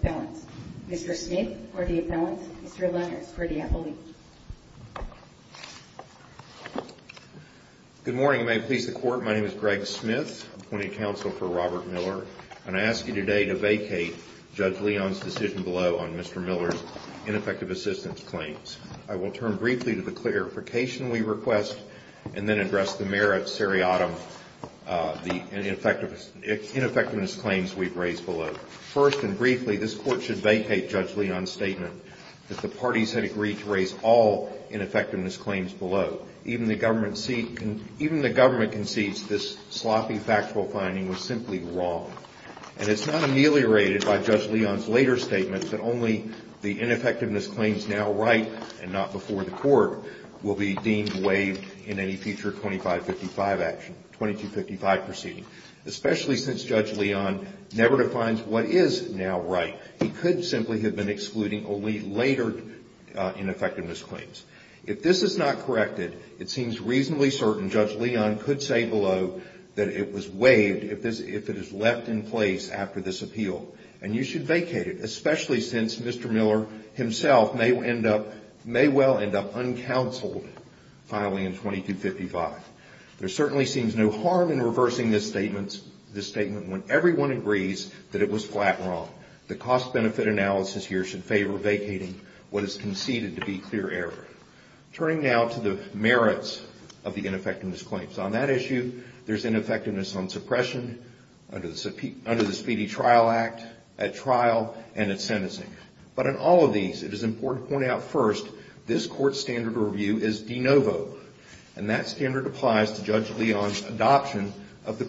Appellant. Mr. Smith for the Appellant, Mr. Lenners for the Appellant. Good morning and may it please the Court, my name is Greg Smith, appointing counsel for Robert Miller, and I ask you today to vacate Judge Leon's decision below on Mr. Miller's ineffective assistance claims. I will turn briefly to the clarification we request and then address the merits, seriatim, the ineffectiveness claims we've raised below. First and briefly, this Court should vacate Judge Leon's statement that the parties had agreed to raise all ineffectiveness claims below. Even the government concedes this sloppy factual finding was simply wrong. And it's not ameliorated by Judge Leon's later statement that only the ineffectiveness claims now right and not before the Court will be deemed waived in any future 2555 action, 2255 proceeding. Especially since Judge Leon never defines what is now right. He could simply have been excluding only later ineffectiveness claims. If this is not corrected, it seems reasonably certain Judge Leon could say below that it was waived if it is left in place after this appeal. And you should vacate it, especially since Mr. Miller himself may well end up uncounseled filing in 2255. There certainly seems no harm in reversing this statement when everyone agrees that it was flat wrong. The cost-benefit analysis here should favor vacating what is conceded to be clear error. Turning now to the merits of the ineffectiveness claims. On that issue, there's ineffectiveness on suppression, under the Speedy Trial Act, at trial, and at sentencing. But in all of these, it is important to point out first this Court's standard of review is de novo. And that standard applies to Judge Leon's adoption of the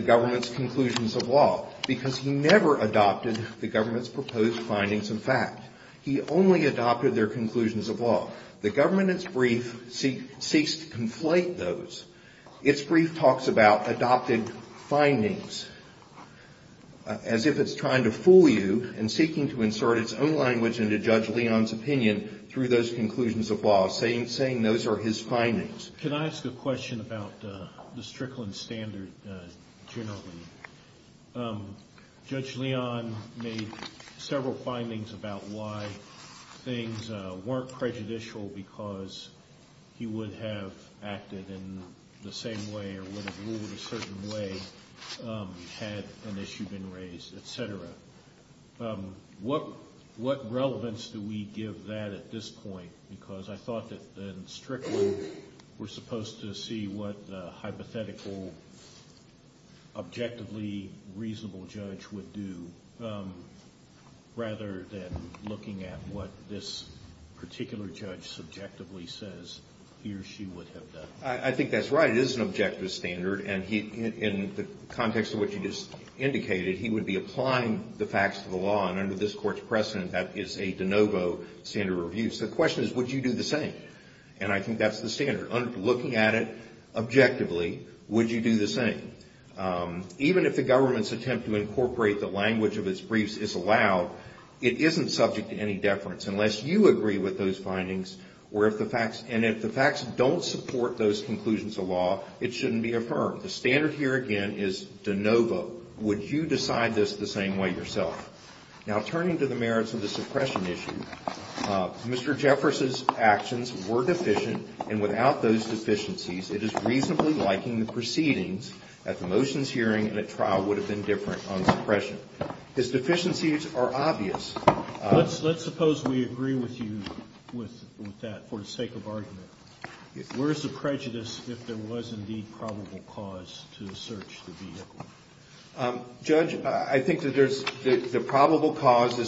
government's conclusions of law. Because he never adopted the government's proposed findings of fact. He only adopted their conclusions of law. The government, in its brief, seeks to conflate those. Its brief talks about adopted findings, as if it's trying to fool you and seeking to insert its own language into Judge Leon's opinion through those conclusions of law, saying those are his findings. Can I ask a question about the Strickland standard generally? Judge Leon made several findings about why things weren't prejudicial because he would have acted in the same way or would have ruled a certain way had an issue been raised, et cetera. What relevance do we give that at this point? Because I thought that in Strickland, we're supposed to see what the hypothetical, objectively reasonable judge would do, rather than looking at what this particular judge subjectively says he or she would have done. I think that's right. It is an objective standard. And in the context of what you just indicated, he would be applying the facts to the law. And under this Court's precedent, that is a de novo standard of review. So the question is, would you do the same? And I think that's the standard. Looking at it objectively, would you do the same? Even if the government's attempt to incorporate the language of its briefs is allowed, it isn't subject to any deference unless you agree with those findings. And if the facts don't support those conclusions of law, it shouldn't be affirmed. The standard here, again, is de novo. Would you decide this the same way yourself? Now, turning to the merits of the suppression issue, Mr. Jeffress's actions were deficient, and without those deficiencies, it is reasonably liking the proceedings at the motions hearing and at trial would have been different on suppression. His deficiencies are obvious. Let's suppose we agree with you with that for the sake of argument. Where is the prejudice if there was indeed probable cause to search the vehicle? Judge, I think that the probable cause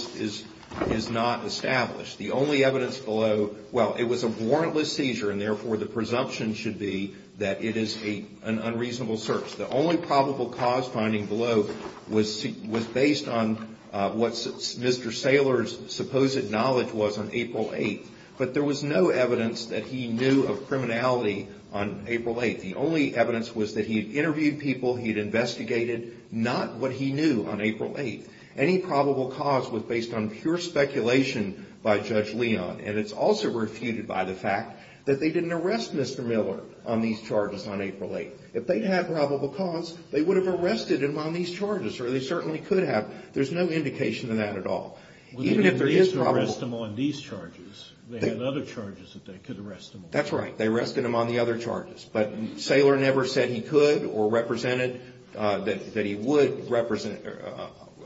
is not established. The only evidence below, well, it was a warrantless seizure, and therefore the presumption should be that it is an unreasonable search. The only probable cause finding below was based on what Mr. Saylor's supposed knowledge was on April 8th, but there was no evidence that he knew of criminality on April 8th. The only evidence was that he had interviewed people, he had investigated, not what he knew on April 8th. Any probable cause was based on pure speculation by Judge Leon, and it's also refuted by the fact that they didn't arrest Mr. Miller on these charges on April 8th. If they had probable cause, they would have arrested him on these charges, or they certainly could have. There's no indication of that at all. Even if there is probable cause. They didn't arrest him on these charges. They had other charges that they could arrest him on. That's right. They arrested him on the other charges. But Saylor never said he could or represented that he would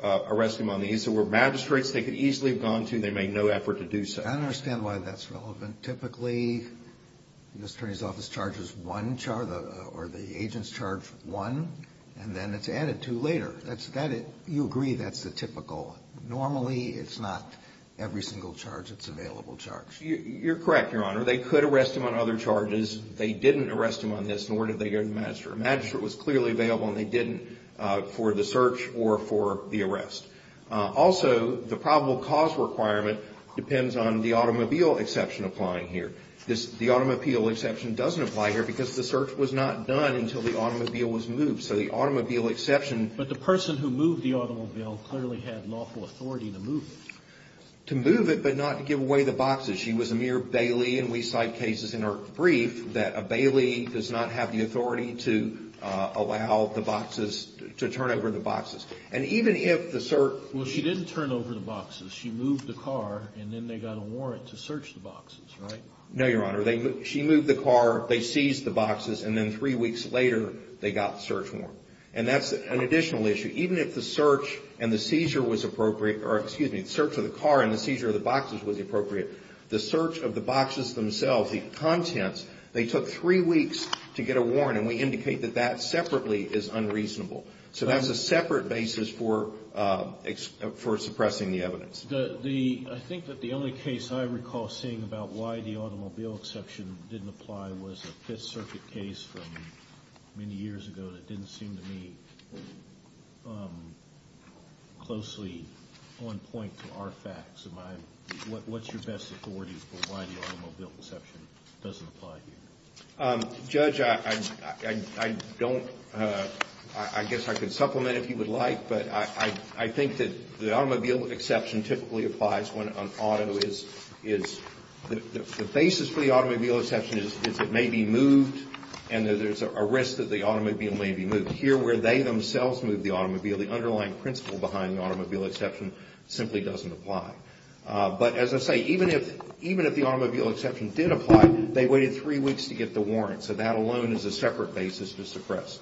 arrest him on these. There were magistrates they could easily have gone to. They made no effort to do so. I don't understand why that's relevant. Typically, the attorney's office charges one charge, or the agents charge one, and then it's added to later. You agree that's the typical. Normally, it's not every single charge. It's available charge. You're correct, Your Honor. They could arrest him on other charges. They didn't arrest him on this, nor did they go to the magistrate. The magistrate was clearly available, and they didn't for the search or for the arrest. Also, the probable cause requirement depends on the automobile exception applying here. The automobile exception doesn't apply here because the search was not done until the automobile was moved. So the automobile exception. But the person who moved the automobile clearly had lawful authority to move it. To move it, but not to give away the boxes. She was a mere bailee, and we cite cases in our brief that a bailee does not have the authority to allow the boxes, to turn over the boxes. And even if the search. Well, she didn't turn over the boxes. She moved the car, and then they got a warrant to search the boxes, right? No, Your Honor. She moved the car. They seized the boxes, and then three weeks later, they got the search warrant. And that's an additional issue. Even if the search and the seizure was appropriate, or excuse me, the search of the car and the seizure of the boxes was appropriate, the search of the boxes themselves, the contents, they took three weeks to get a warrant, and we indicate that that separately is unreasonable. So that's a separate basis for suppressing the evidence. I think that the only case I recall seeing about why the automobile exception didn't apply was a Fifth Circuit case from many years ago that didn't seem to me closely on point to our facts. What's your best authority for why the automobile exception doesn't apply here? Judge, I don't. I guess I could supplement if you would like, but I think that the automobile exception typically applies when an auto is. The basis for the automobile exception is it may be moved, and there's a risk that the automobile may be moved. Here, where they themselves moved the automobile, the underlying principle behind the automobile exception simply doesn't apply. But as I say, even if the automobile exception did apply, they waited three weeks to get the warrant. So that alone is a separate basis to suppress.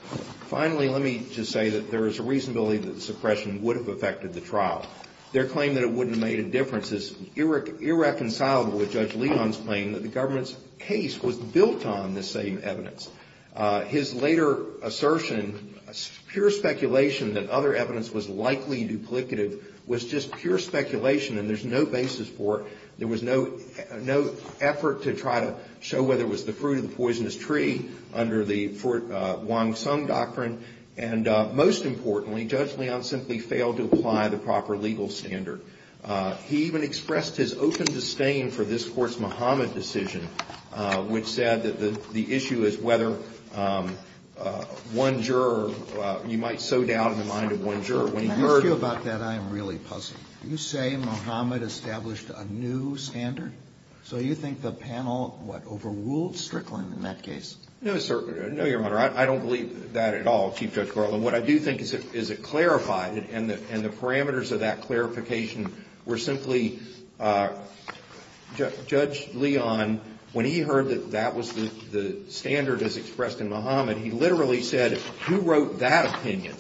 Finally, let me just say that there is a reasonability that the suppression would have affected the trial. Their claim that it wouldn't have made a difference is irreconcilable with Judge Leon's claim that the government's case was built on the same evidence. His later assertion, pure speculation that other evidence was likely duplicative, was just pure speculation, and there's no basis for it. There was no effort to try to show whether it was the fruit of the poisonous tree under the Wong Sung doctrine. And most importantly, Judge Leon simply failed to apply the proper legal standard. He even expressed his open disdain for this Court's Muhammad decision, which said that the issue is whether one juror, you might so doubt in the mind of one juror. Can I ask you about that? I am really puzzled. You say Muhammad established a new standard? So you think the panel, what, overruled Strickland in that case? No, Your Honor. I don't believe that at all, Chief Judge Garland. What I do think is it clarified, and the parameters of that clarification were simply Judge Leon, when he heard that that was the standard as expressed in Muhammad, he literally said, who wrote that opinion?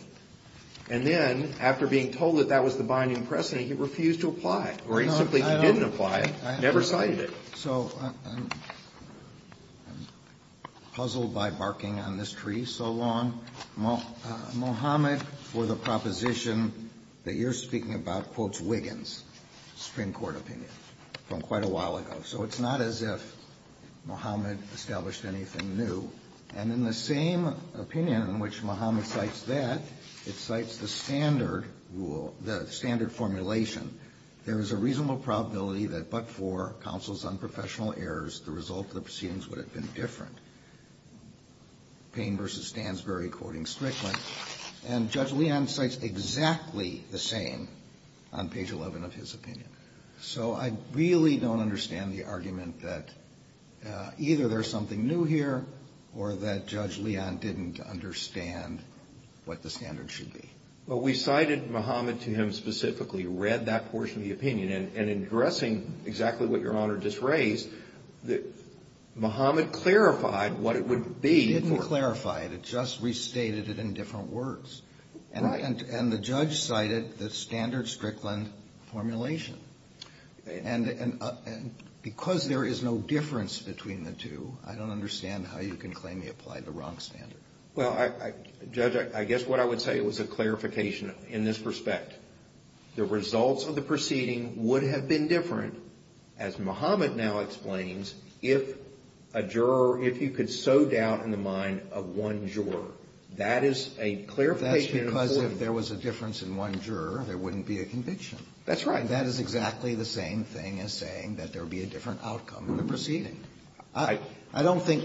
And then, after being told that that was the binding precedent, he refused to apply it, or he simply didn't apply it, never cited it. So I'm puzzled by barking on this tree so long. Muhammad, for the proposition that you're speaking about, quotes Wiggins' Supreme Court opinion from quite a while ago. So it's not as if Muhammad established anything new. And in the same opinion in which Muhammad cites that, it cites the standard rule, the standard formulation. There is a reasonable probability that but for counsel's unprofessional errors, the result of the proceedings would have been different. Payne v. Stansbury, quoting Strickland. And Judge Leon cites exactly the same on page 11 of his opinion. So I really don't understand the argument that either there's something new here or that Judge Leon didn't understand what the standard should be. Well, we cited Muhammad to him specifically, read that portion of the opinion. And in addressing exactly what Your Honor just raised, Muhammad clarified what it would be. He didn't clarify it. It just restated it in different words. Right. And the judge cited the standard Strickland formulation. And because there is no difference between the two, I don't understand how you can claim he applied the wrong standard. Well, Judge, I guess what I would say was a clarification in this respect. The results of the proceeding would have been different, as Muhammad now explains, if a juror, if you could sow doubt in the mind of one juror. That is a clarification in a form. That's because if there was a difference in one juror, there wouldn't be a conviction. That's right. That is exactly the same thing as saying that there would be a different outcome in the proceeding. I don't think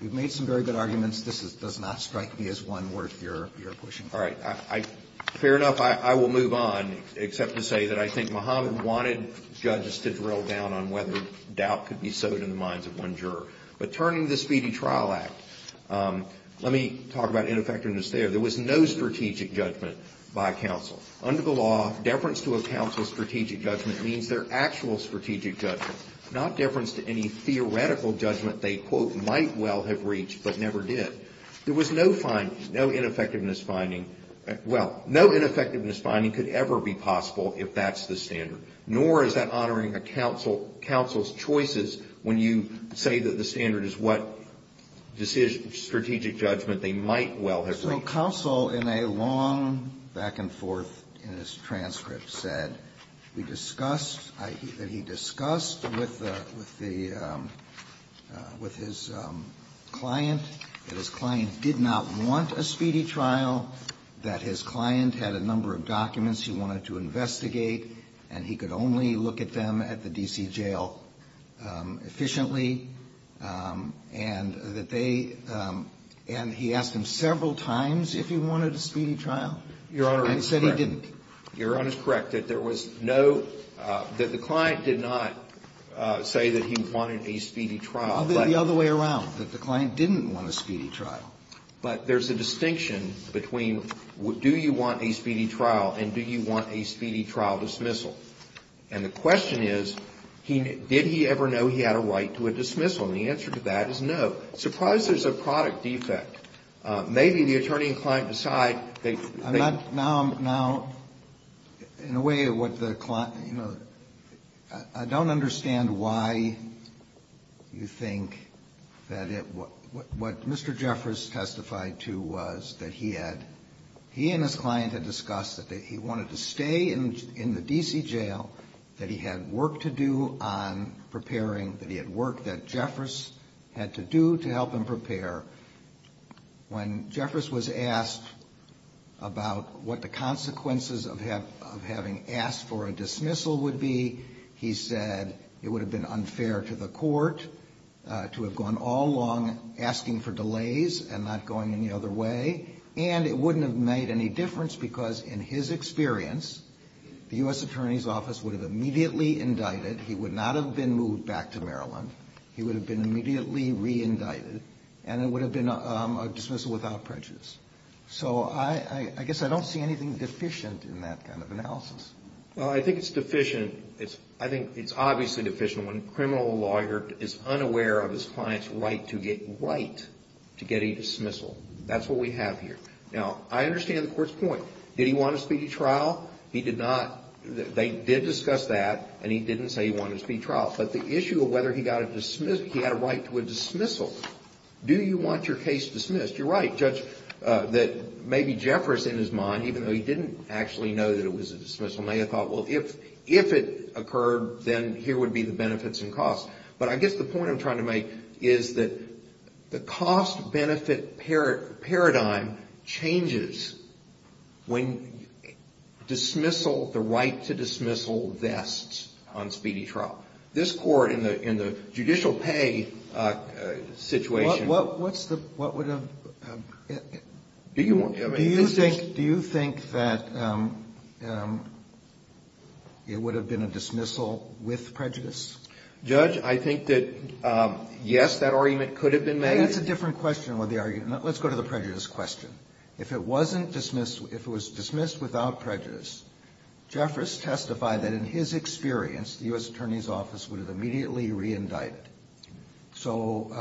you've made some very good arguments. This does not strike me as one worth your pushing for. All right. Fair enough. I will move on, except to say that I think Muhammad wanted judges to drill down on whether doubt could be sowed in the minds of one juror. But turning to the Speedy Trial Act, let me talk about ineffectiveness there. There was no strategic judgment by counsel. Under the law, deference to a counsel's strategic judgment means their actual strategic judgment, not deference to any theoretical judgment they, quote, might well have reached but never did. There was no finding, no ineffectiveness finding. Well, no ineffectiveness finding could ever be possible if that's the standard. Nor is that honoring a counsel's choices when you say that the standard is what strategic judgment they might well have reached. So counsel, in a long back-and-forth in his transcript, said we discussed that he discussed with the, with his client that his client did not want a speedy trial, that his client had a number of documents he wanted to investigate, and he could only look at them at the D.C. jail efficiently, and that they, and he asked him several times if he wanted a speedy trial, and he said he didn't. Your Honor is correct. Your Honor is correct that there was no, that the client did not say that he wanted a speedy trial. The other way around, that the client didn't want a speedy trial. But there's a distinction between do you want a speedy trial and do you want a speedy trial dismissal. And the question is, did he ever know he had a right to a dismissal? And the answer to that is no. So surprise there's a product defect. Maybe the attorney and client decide they think. Now, now, in a way, what the client, you know, I don't understand why you think that it, what Mr. Jeffress testified to was that he had, he and his client had discussed that he wanted to stay in the D.C. jail, that he had work to do on preparing, that he had work that Jeffress had to do to help him prepare. When Jeffress was asked about what the consequences of having asked for a dismissal would be, he said it would have been unfair to the court to have gone all along asking for delays and not going any other way, and it wouldn't have made any difference because, in his experience, the U.S. Attorney's Office would have immediately indicted, he would not have been moved back to Maryland, he would have been immediately re-indicted, and it would have been a dismissal without prejudice. So I guess I don't see anything deficient in that kind of analysis. Well, I think it's deficient. I think it's obviously deficient when a criminal lawyer is unaware of his client's right to get, right to get a dismissal. That's what we have here. Now, I understand the court's point. Did he want a speedy trial? He did not. They did discuss that, and he didn't say he wanted a speedy trial. But the issue of whether he got a dismissal, he had a right to a dismissal. Do you want your case dismissed? You're right, Judge, that maybe Jeffress, in his mind, even though he didn't actually know that it was a dismissal, may have thought, well, if it occurred, then here would be the benefits and costs. But I guess the point I'm trying to make is that the cost-benefit paradigm changes when dismissal, the right to dismissal, vests on speedy trial. This Court, in the judicial pay situation. What's the, what would have, do you think, do you think that it would have been a dismissal with prejudice? Judge, I think that, yes, that argument could have been made. It's a different question with the argument. Let's go to the prejudice question. If it wasn't dismissed, if it was dismissed without prejudice, Jeffress testified that, in his experience, the U.S. Attorney's Office would have immediately re-indicted, so,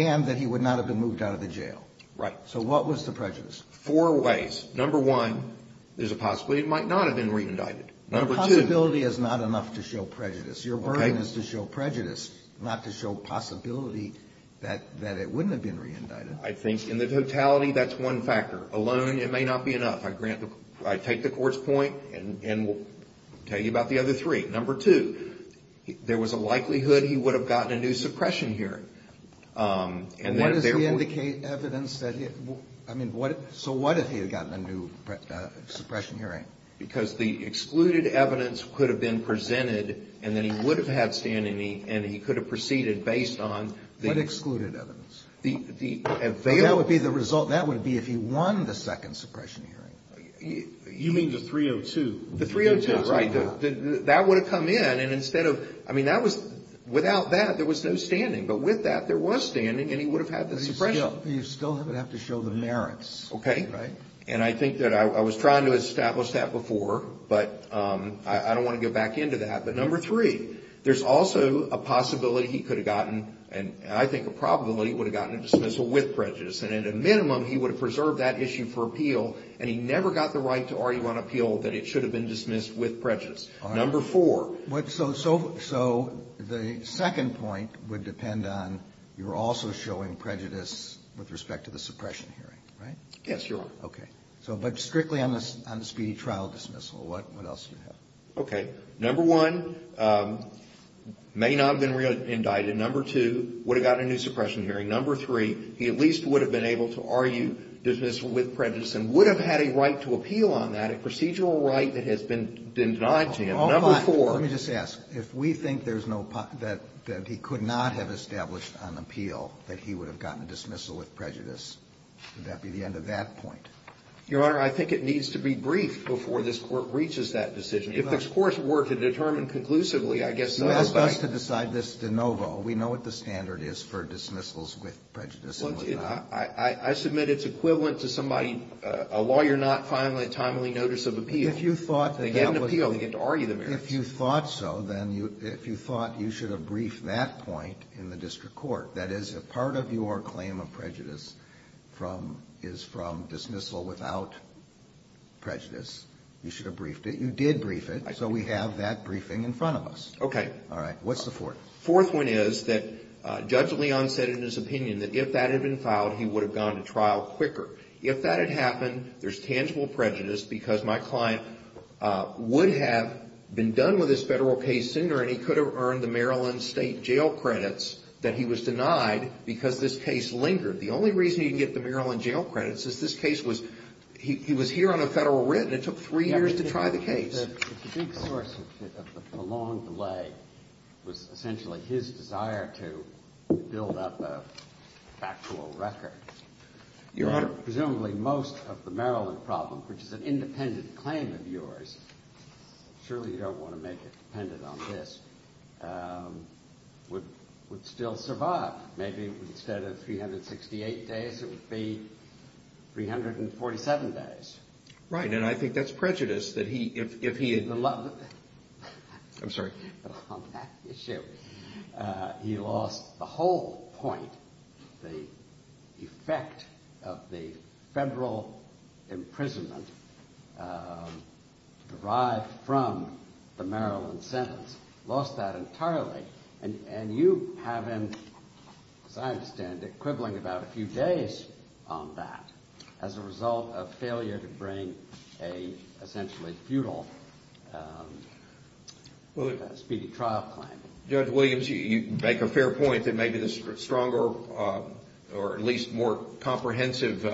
and that he would not have been moved out of the jail. Right. So what was the prejudice? Four ways. Number one, there's a possibility it might not have been re-indicted. Number two. The possibility is not enough to show prejudice. Okay. It's your burden is to show prejudice, not to show possibility that it wouldn't have been re-indicted. I think, in the totality, that's one factor. Alone, it may not be enough. I grant, I take the Court's point, and we'll tell you about the other three. Number two, there was a likelihood he would have gotten a new suppression hearing. And what does re-indicate evidence that he, I mean, what, so what if he had gotten a new suppression hearing? Because the excluded evidence could have been presented, and then he would have had standing, and he could have proceeded based on the available. What excluded evidence? That would be the result, that would be if he won the second suppression hearing. You mean the 302? The 302, right. That would have come in, and instead of, I mean, that was, without that, there was no standing. But with that, there was standing, and he would have had the suppression. But you still would have to show the merits. Okay. Right. And I think that I was trying to establish that before, but I don't want to get back into that. But number three, there's also a possibility he could have gotten, and I think a probability, he would have gotten a dismissal with prejudice. And at a minimum, he would have preserved that issue for appeal, and he never got the right to argue on appeal that it should have been dismissed with prejudice. All right. Number four. So the second point would depend on you're also showing prejudice with respect to the suppression hearing, right? Yes, Your Honor. Okay. So but strictly on the speedy trial dismissal, what else do you have? Okay. Number one, may not have been re-indicted. Number two, would have gotten a new suppression hearing. Number three, he at least would have been able to argue dismissal with prejudice and would have had a right to appeal on that, a procedural right that has been denied to him. Number four. Hold on. Let me just ask. If we think there's no, that he could not have established on appeal that he would have gotten a dismissal with prejudice, would that be the end of that point? Your Honor, I think it needs to be briefed before this Court reaches that decision. If this Court were to determine conclusively, I guess I would like to decide this de novo. We know what the standard is for dismissals with prejudice. Well, I submit it's equivalent to somebody, a lawyer not filing a timely notice of appeal. If you thought that that was. They get an appeal. They get to argue the merits. If you thought so, then you, if you thought you should have briefed that point in the court claim of prejudice from, is from dismissal without prejudice, you should have briefed it. You did brief it. So we have that briefing in front of us. Okay. All right. What's the fourth? Fourth one is that Judge Leon said in his opinion that if that had been filed, he would have gone to trial quicker. If that had happened, there's tangible prejudice because my client would have been done with his federal case sooner and he could have earned the Maryland state jail credits that he was denied because this case lingered. The only reason you can get the Maryland jail credits is this case was, he was here on a federal writ and it took three years to try the case. The big source of the prolonged delay was essentially his desire to build up a factual record. You're under presumably most of the Maryland problem, which is an independent claim of yours. Surely you don't want to make it dependent on this, would still survive. Maybe instead of 368 days, it would be 347 days. Right. And I think that's prejudice that he, if he had allowed, I'm sorry, he lost the whole point, the effect of the federal imprisonment derived from the Maryland sentence, lost that entirely. And you haven't, as I understand it, quibbling about a few days on that as a result of failure to bring a essentially futile speedy trial claim. Judge Williams, you make a fair point that maybe the stronger or at least more comprehensive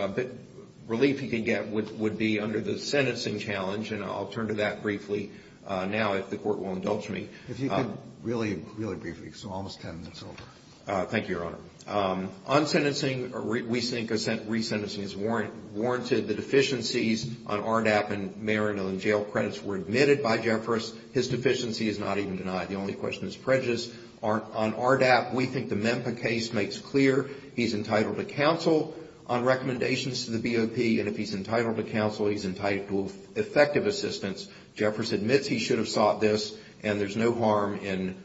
relief he could get would be under the sentencing challenge. And I'll turn to that briefly now if the court will indulge me. If you could really, really briefly, because we're almost 10 minutes over. Thank you, Your Honor. On sentencing, we think resentencing is warranted. The deficiencies on ARDAP and Maryland jail credits were admitted by Jeffress. His deficiency is not even denied. The only question is prejudice. On ARDAP, we think the MEMPA case makes clear he's entitled to counsel on recommendations to the BOP. And if he's entitled to counsel, he's entitled to effective assistance. Jeffress admits he should have sought this and there's no harm in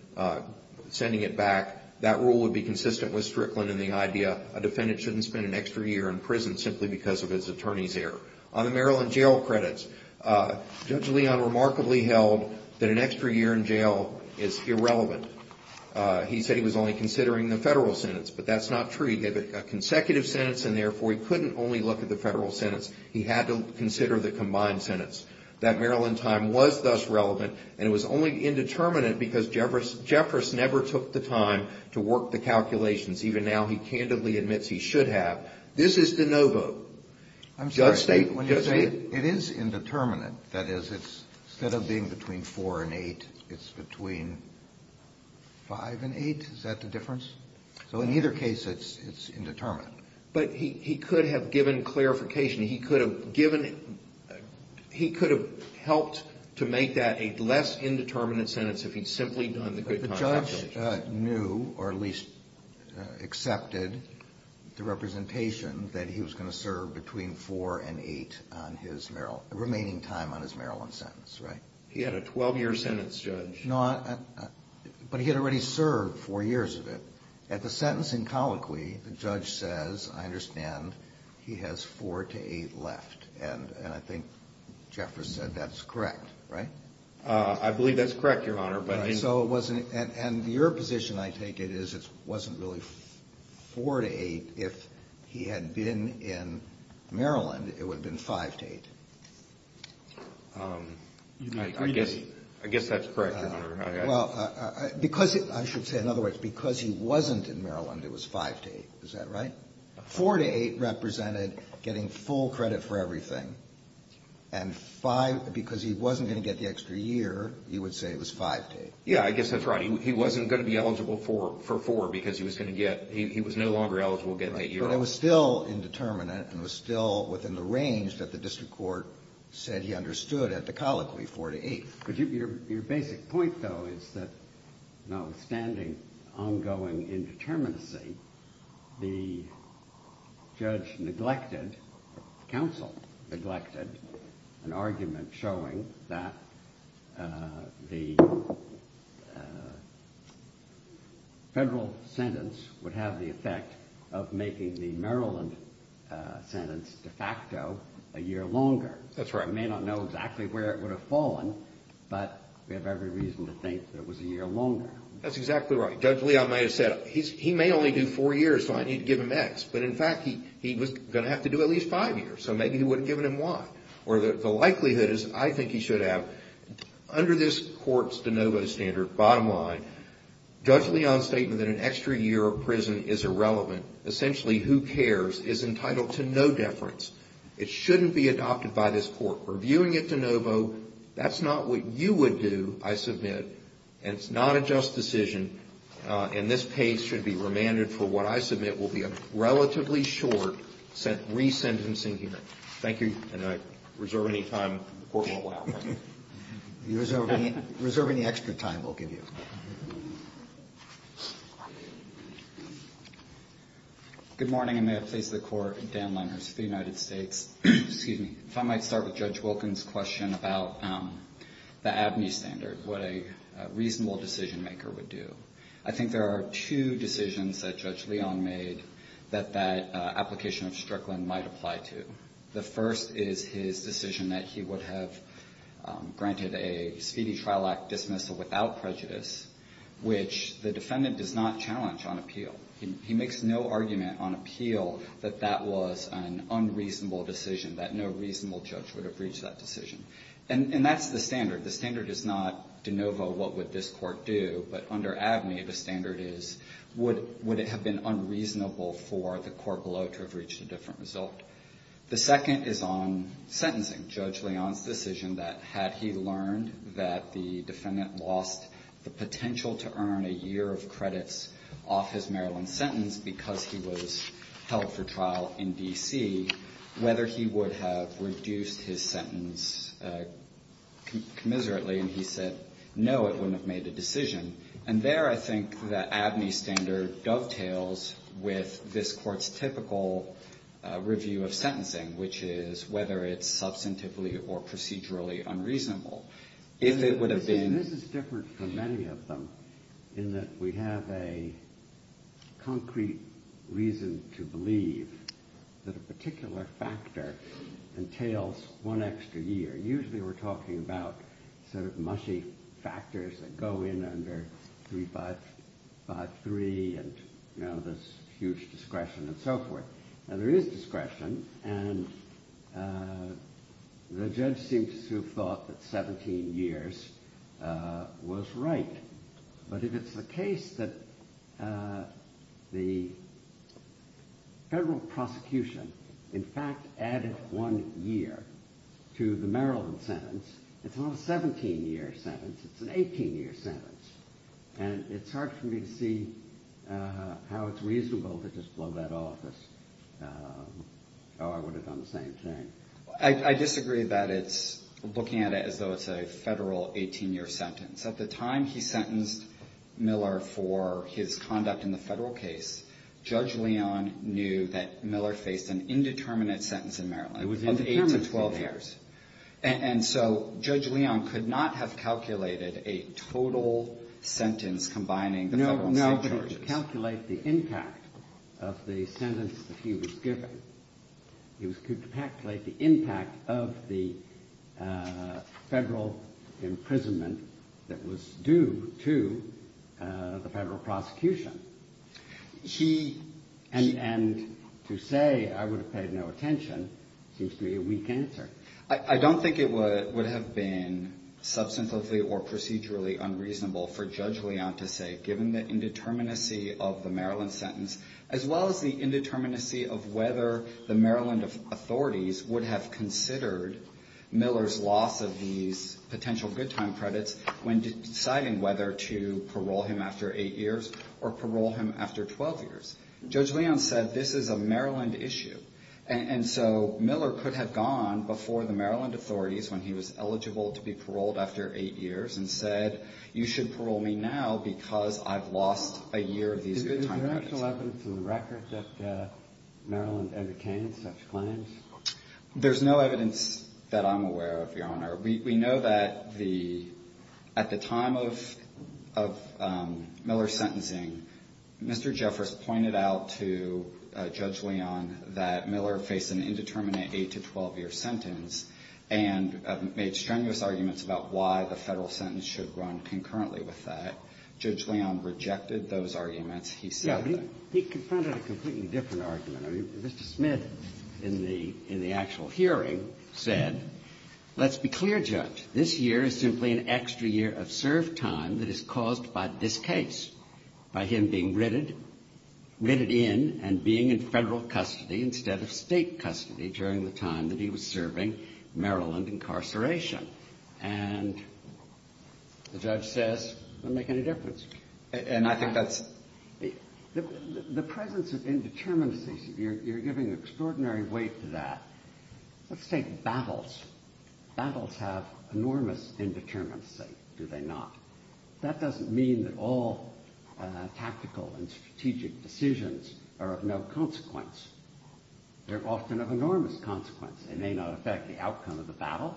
sending it back. That rule would be consistent with Strickland in the idea a defendant shouldn't spend an extra year in prison simply because of his attorney's error. On the Maryland jail credits, Judge Leon remarkably held that an extra year in jail is irrelevant. He said he was only considering the federal sentence. But that's not true. He had a consecutive sentence and, therefore, he couldn't only look at the federal sentence. He had to consider the combined sentence. That Maryland time was thus relevant and it was only indeterminate because Jeffress never took the time to work the calculations. Even now, he candidly admits he should have. This is de novo. I'm sorry. When you say it is indeterminate, that is, instead of being between four and eight, it's between five and eight? Is that the difference? So in either case, it's indeterminate. But he could have given clarification. He could have given he could have helped to make that a less indeterminate sentence if he'd simply done the good time calculations. But the judge knew or at least accepted the representation that he was going to serve between four and eight on his remaining time on his Maryland sentence, right? He had a 12-year sentence, Judge. No, but he had already served four years of it. At the sentence in colloquy, the judge says, I understand, he has four to eight left. And I think Jeffress said that's correct, right? I believe that's correct, Your Honor. And your position, I take it, is it wasn't really four to eight. If he had been in Maryland, it would have been five to eight. I guess that's correct, Your Honor. Well, because I should say in other words, because he wasn't in Maryland, it was five to eight. Is that right? Four to eight represented getting full credit for everything. And five, because he wasn't going to get the extra year, you would say it was five to eight. Yeah, I guess that's right. He wasn't going to be eligible for four because he was going to get he was no longer eligible to get an eight-year sentence. But it was still indeterminate and was still within the range that the district court said he understood at the colloquy, four to eight. But your basic point, though, is that notwithstanding ongoing indeterminacy, the judge neglected, counsel neglected an argument showing that the Federal sentence would have the effect of making the Maryland sentence de facto a year longer. That's right. He may not know exactly where it would have fallen, but we have every reason to think that it was a year longer. That's exactly right. Judge Leon may have said, he may only do four years, so I need to give him X. But in fact, he was going to have to do at least five years, so maybe he wouldn't have given him Y. Or the likelihood is I think he should have. Under this court's de novo standard, bottom line, Judge Leon's statement that an extra year of prison is irrelevant, essentially who cares, is entitled to no deference. It shouldn't be adopted by this court. We're viewing it de novo. That's not what you would do, I submit. And it's not a just decision. And this page should be remanded for what I submit will be a relatively short resentencing hearing. Thank you. And I reserve any time the Court won't allow for. You reserve any extra time we'll give you. Good morning, and may it please the Court. Dan Lenners of the United States. Excuse me. If I might start with Judge Wilkins' question about the ABNY standard, what a reasonable decision-maker would do. I think there are two decisions that Judge Leon made that that application of Strickland might apply to. The first is his decision that he would have granted a speedy trial act dismissal without prejudice, which the defendant does not challenge on appeal. He makes no argument on appeal that that was an unreasonable decision, that no reasonable judge would have reached that decision. And that's the standard. The standard is not de novo what would this court do, but under ABNY, the standard is would it have been unreasonable for the court below to have reached a different result. The second is on sentencing. Judge Leon's decision that had he learned that the defendant lost the potential to earn a year of credits off his Maryland sentence because he was held for trial in D.C., whether he would have reduced his sentence commiserately, and he said, no, it wouldn't have made a decision. And there I think the ABNY standard dovetails with this Court's typical review of sentencing, which is whether it's substantively or procedurally unreasonable. If it would have been — This is different from many of them in that we have a concrete reason to believe that a particular factor entails one extra year. Usually we're talking about sort of mushy factors that go in under 3553 and, you know, this huge discretion and so forth. Now, there is discretion, and the judge seems to have thought that 17 years was right. But if it's the case that the federal prosecution, in fact, added one year to the Maryland sentence, it's not a 17-year sentence. It's an 18-year sentence. And it's hard for me to see how it's reasonable to just blow that off as, oh, I would have done the same thing. I disagree that it's — looking at it as though it's a federal 18-year sentence. At the time he sentenced Miller for his conduct in the federal case, Judge Leon knew that Miller faced an indeterminate sentence in Maryland. It was indeterminate for him. Of eight to 12 years. And so Judge Leon could not have calculated a total sentence combining the federal and state charges. No, but he could calculate the impact of the sentence that he was given. He could calculate the impact of the federal imprisonment that was due to the federal prosecution. He — and to say I would have paid no attention seems to be a weak answer. I don't think it would have been substantively or procedurally unreasonable for Judge Leon to say, given the indeterminacy of the Maryland sentence, as well as the indeterminacy of whether the Maryland authorities would have considered Miller's loss of these potential good time credits when deciding whether to parole him after 12 years. Judge Leon said this is a Maryland issue. And so Miller could have gone before the Maryland authorities when he was eligible to be paroled after eight years and said, you should parole me now because I've lost a year of these good time credits. Is there actual evidence in the record that Maryland ever gained such claims? There's no evidence that I'm aware of, Your Honor. We know that the — at the time of Miller's sentencing, Mr. Jeffress pointed out to Judge Leon that Miller faced an indeterminate 8-to-12-year sentence and made strenuous arguments about why the Federal sentence should run concurrently with that. Judge Leon rejected those arguments. He said that. He confronted a completely different argument. I mean, Mr. Smith, in the actual hearing, said, let's be clear, Judge, this year is simply an extra year of served time that is caused by this case, by him being written in and being in Federal custody instead of State custody during the time that he was serving Maryland incarceration. And the judge says it doesn't make any difference. And I think that's — The presence of indeterminacy, you're giving extraordinary weight to that. Let's take battles. Battles have enormous indeterminacy, do they not? That doesn't mean that all tactical and strategic decisions are of no consequence. They're often of enormous consequence. They may not affect the outcome of the battle,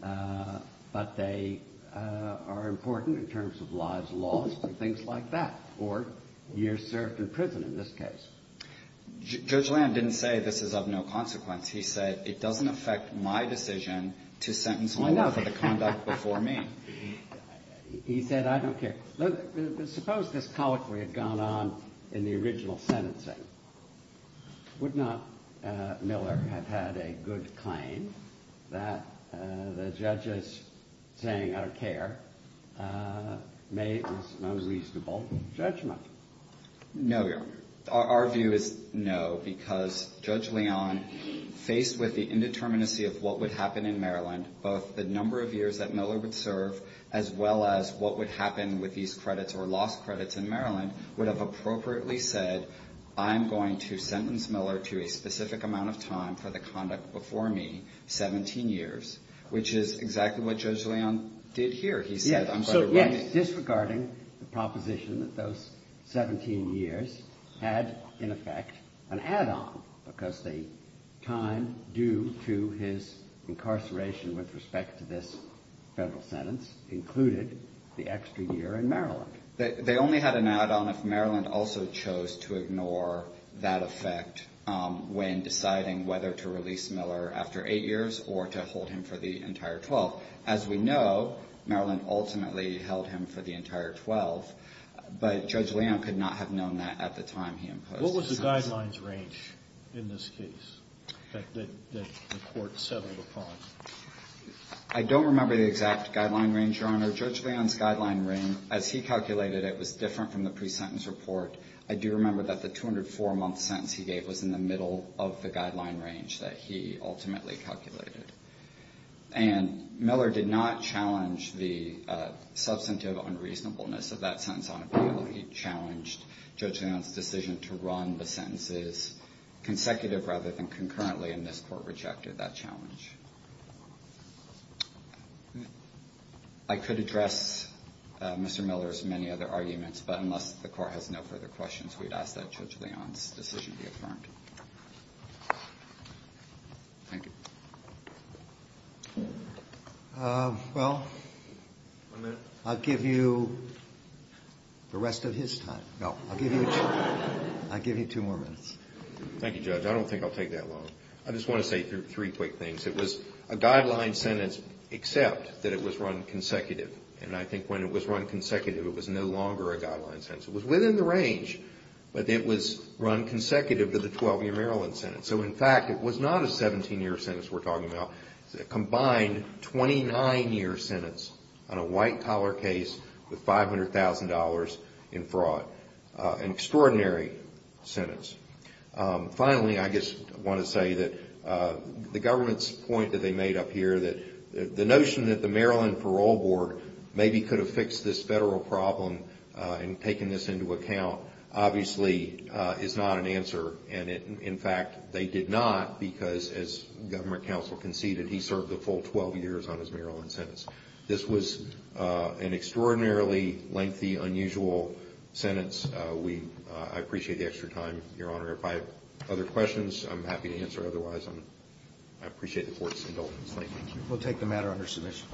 but they are important in terms of lives lost and things like that, or years served in prison in this case. Judge Leon didn't say this is of no consequence. He said, it doesn't affect my decision to sentence him for the conduct before me. He said, I don't care. Suppose this colloquy had gone on in the original sentencing. Would not Miller have had a good claim that the judge is saying, I don't care, made this unreasonable judgment? No, Your Honor. Our view is no, because Judge Leon, faced with the indeterminacy of what would happen in Maryland, both the number of years that Miller would serve as well as what would happen with these credits or lost credits in Maryland, would have appropriately said, I'm going to sentence Miller to a specific amount of time for the conduct before me, 17 years, which is exactly what Judge Leon did here. He said, I'm going to write it. So, yes, disregarding the proposition that those 17 years had, in effect, an add-on, because the time due to his incarceration with respect to this Federal sentence included the extra year in Maryland. They only had an add-on if Maryland also chose to ignore that effect when deciding whether to release Miller after 8 years or to hold him for the entire 12. As we know, Maryland ultimately held him for the entire 12, but Judge Leon could not have known that at the time he imposed the sentence. What was the guidelines range in this case that the Court settled upon? So, Judge Leon's guideline range, as he calculated it, was different from the pre-sentence report. I do remember that the 204-month sentence he gave was in the middle of the guideline range that he ultimately calculated. And Miller did not challenge the substantive unreasonableness of that sentence on appeal. He challenged Judge Leon's decision to run the sentences consecutive rather than concurrently, and this Court rejected that challenge. I could address Mr. Miller's many other arguments, but unless the Court has no further questions, we'd ask that Judge Leon's decision be affirmed. Thank you. Well, I'll give you the rest of his time. No, I'll give you two more minutes. Thank you, Judge. I don't think I'll take that long. I just want to say three quick things. It was a guideline sentence except that it was run consecutive. And I think when it was run consecutive, it was no longer a guideline sentence. It was within the range, but it was run consecutive to the 12-year Maryland sentence. So, in fact, it was not a 17-year sentence we're talking about. It was a combined 29-year sentence on a white-collar case with $500,000 in fraud. An extraordinary sentence. Finally, I just want to say that the government's point that they made up here, that the notion that the Maryland Parole Board maybe could have fixed this federal problem and taken this into account, obviously, is not an answer. And, in fact, they did not because, as government counsel conceded, he served a full 12 years on his Maryland sentence. This was an extraordinarily lengthy, unusual sentence. I appreciate the extra time, Your Honor. If I have other questions, I'm happy to answer. Otherwise, I appreciate the Court's indulgence. Thank you. We'll take the matter under submission.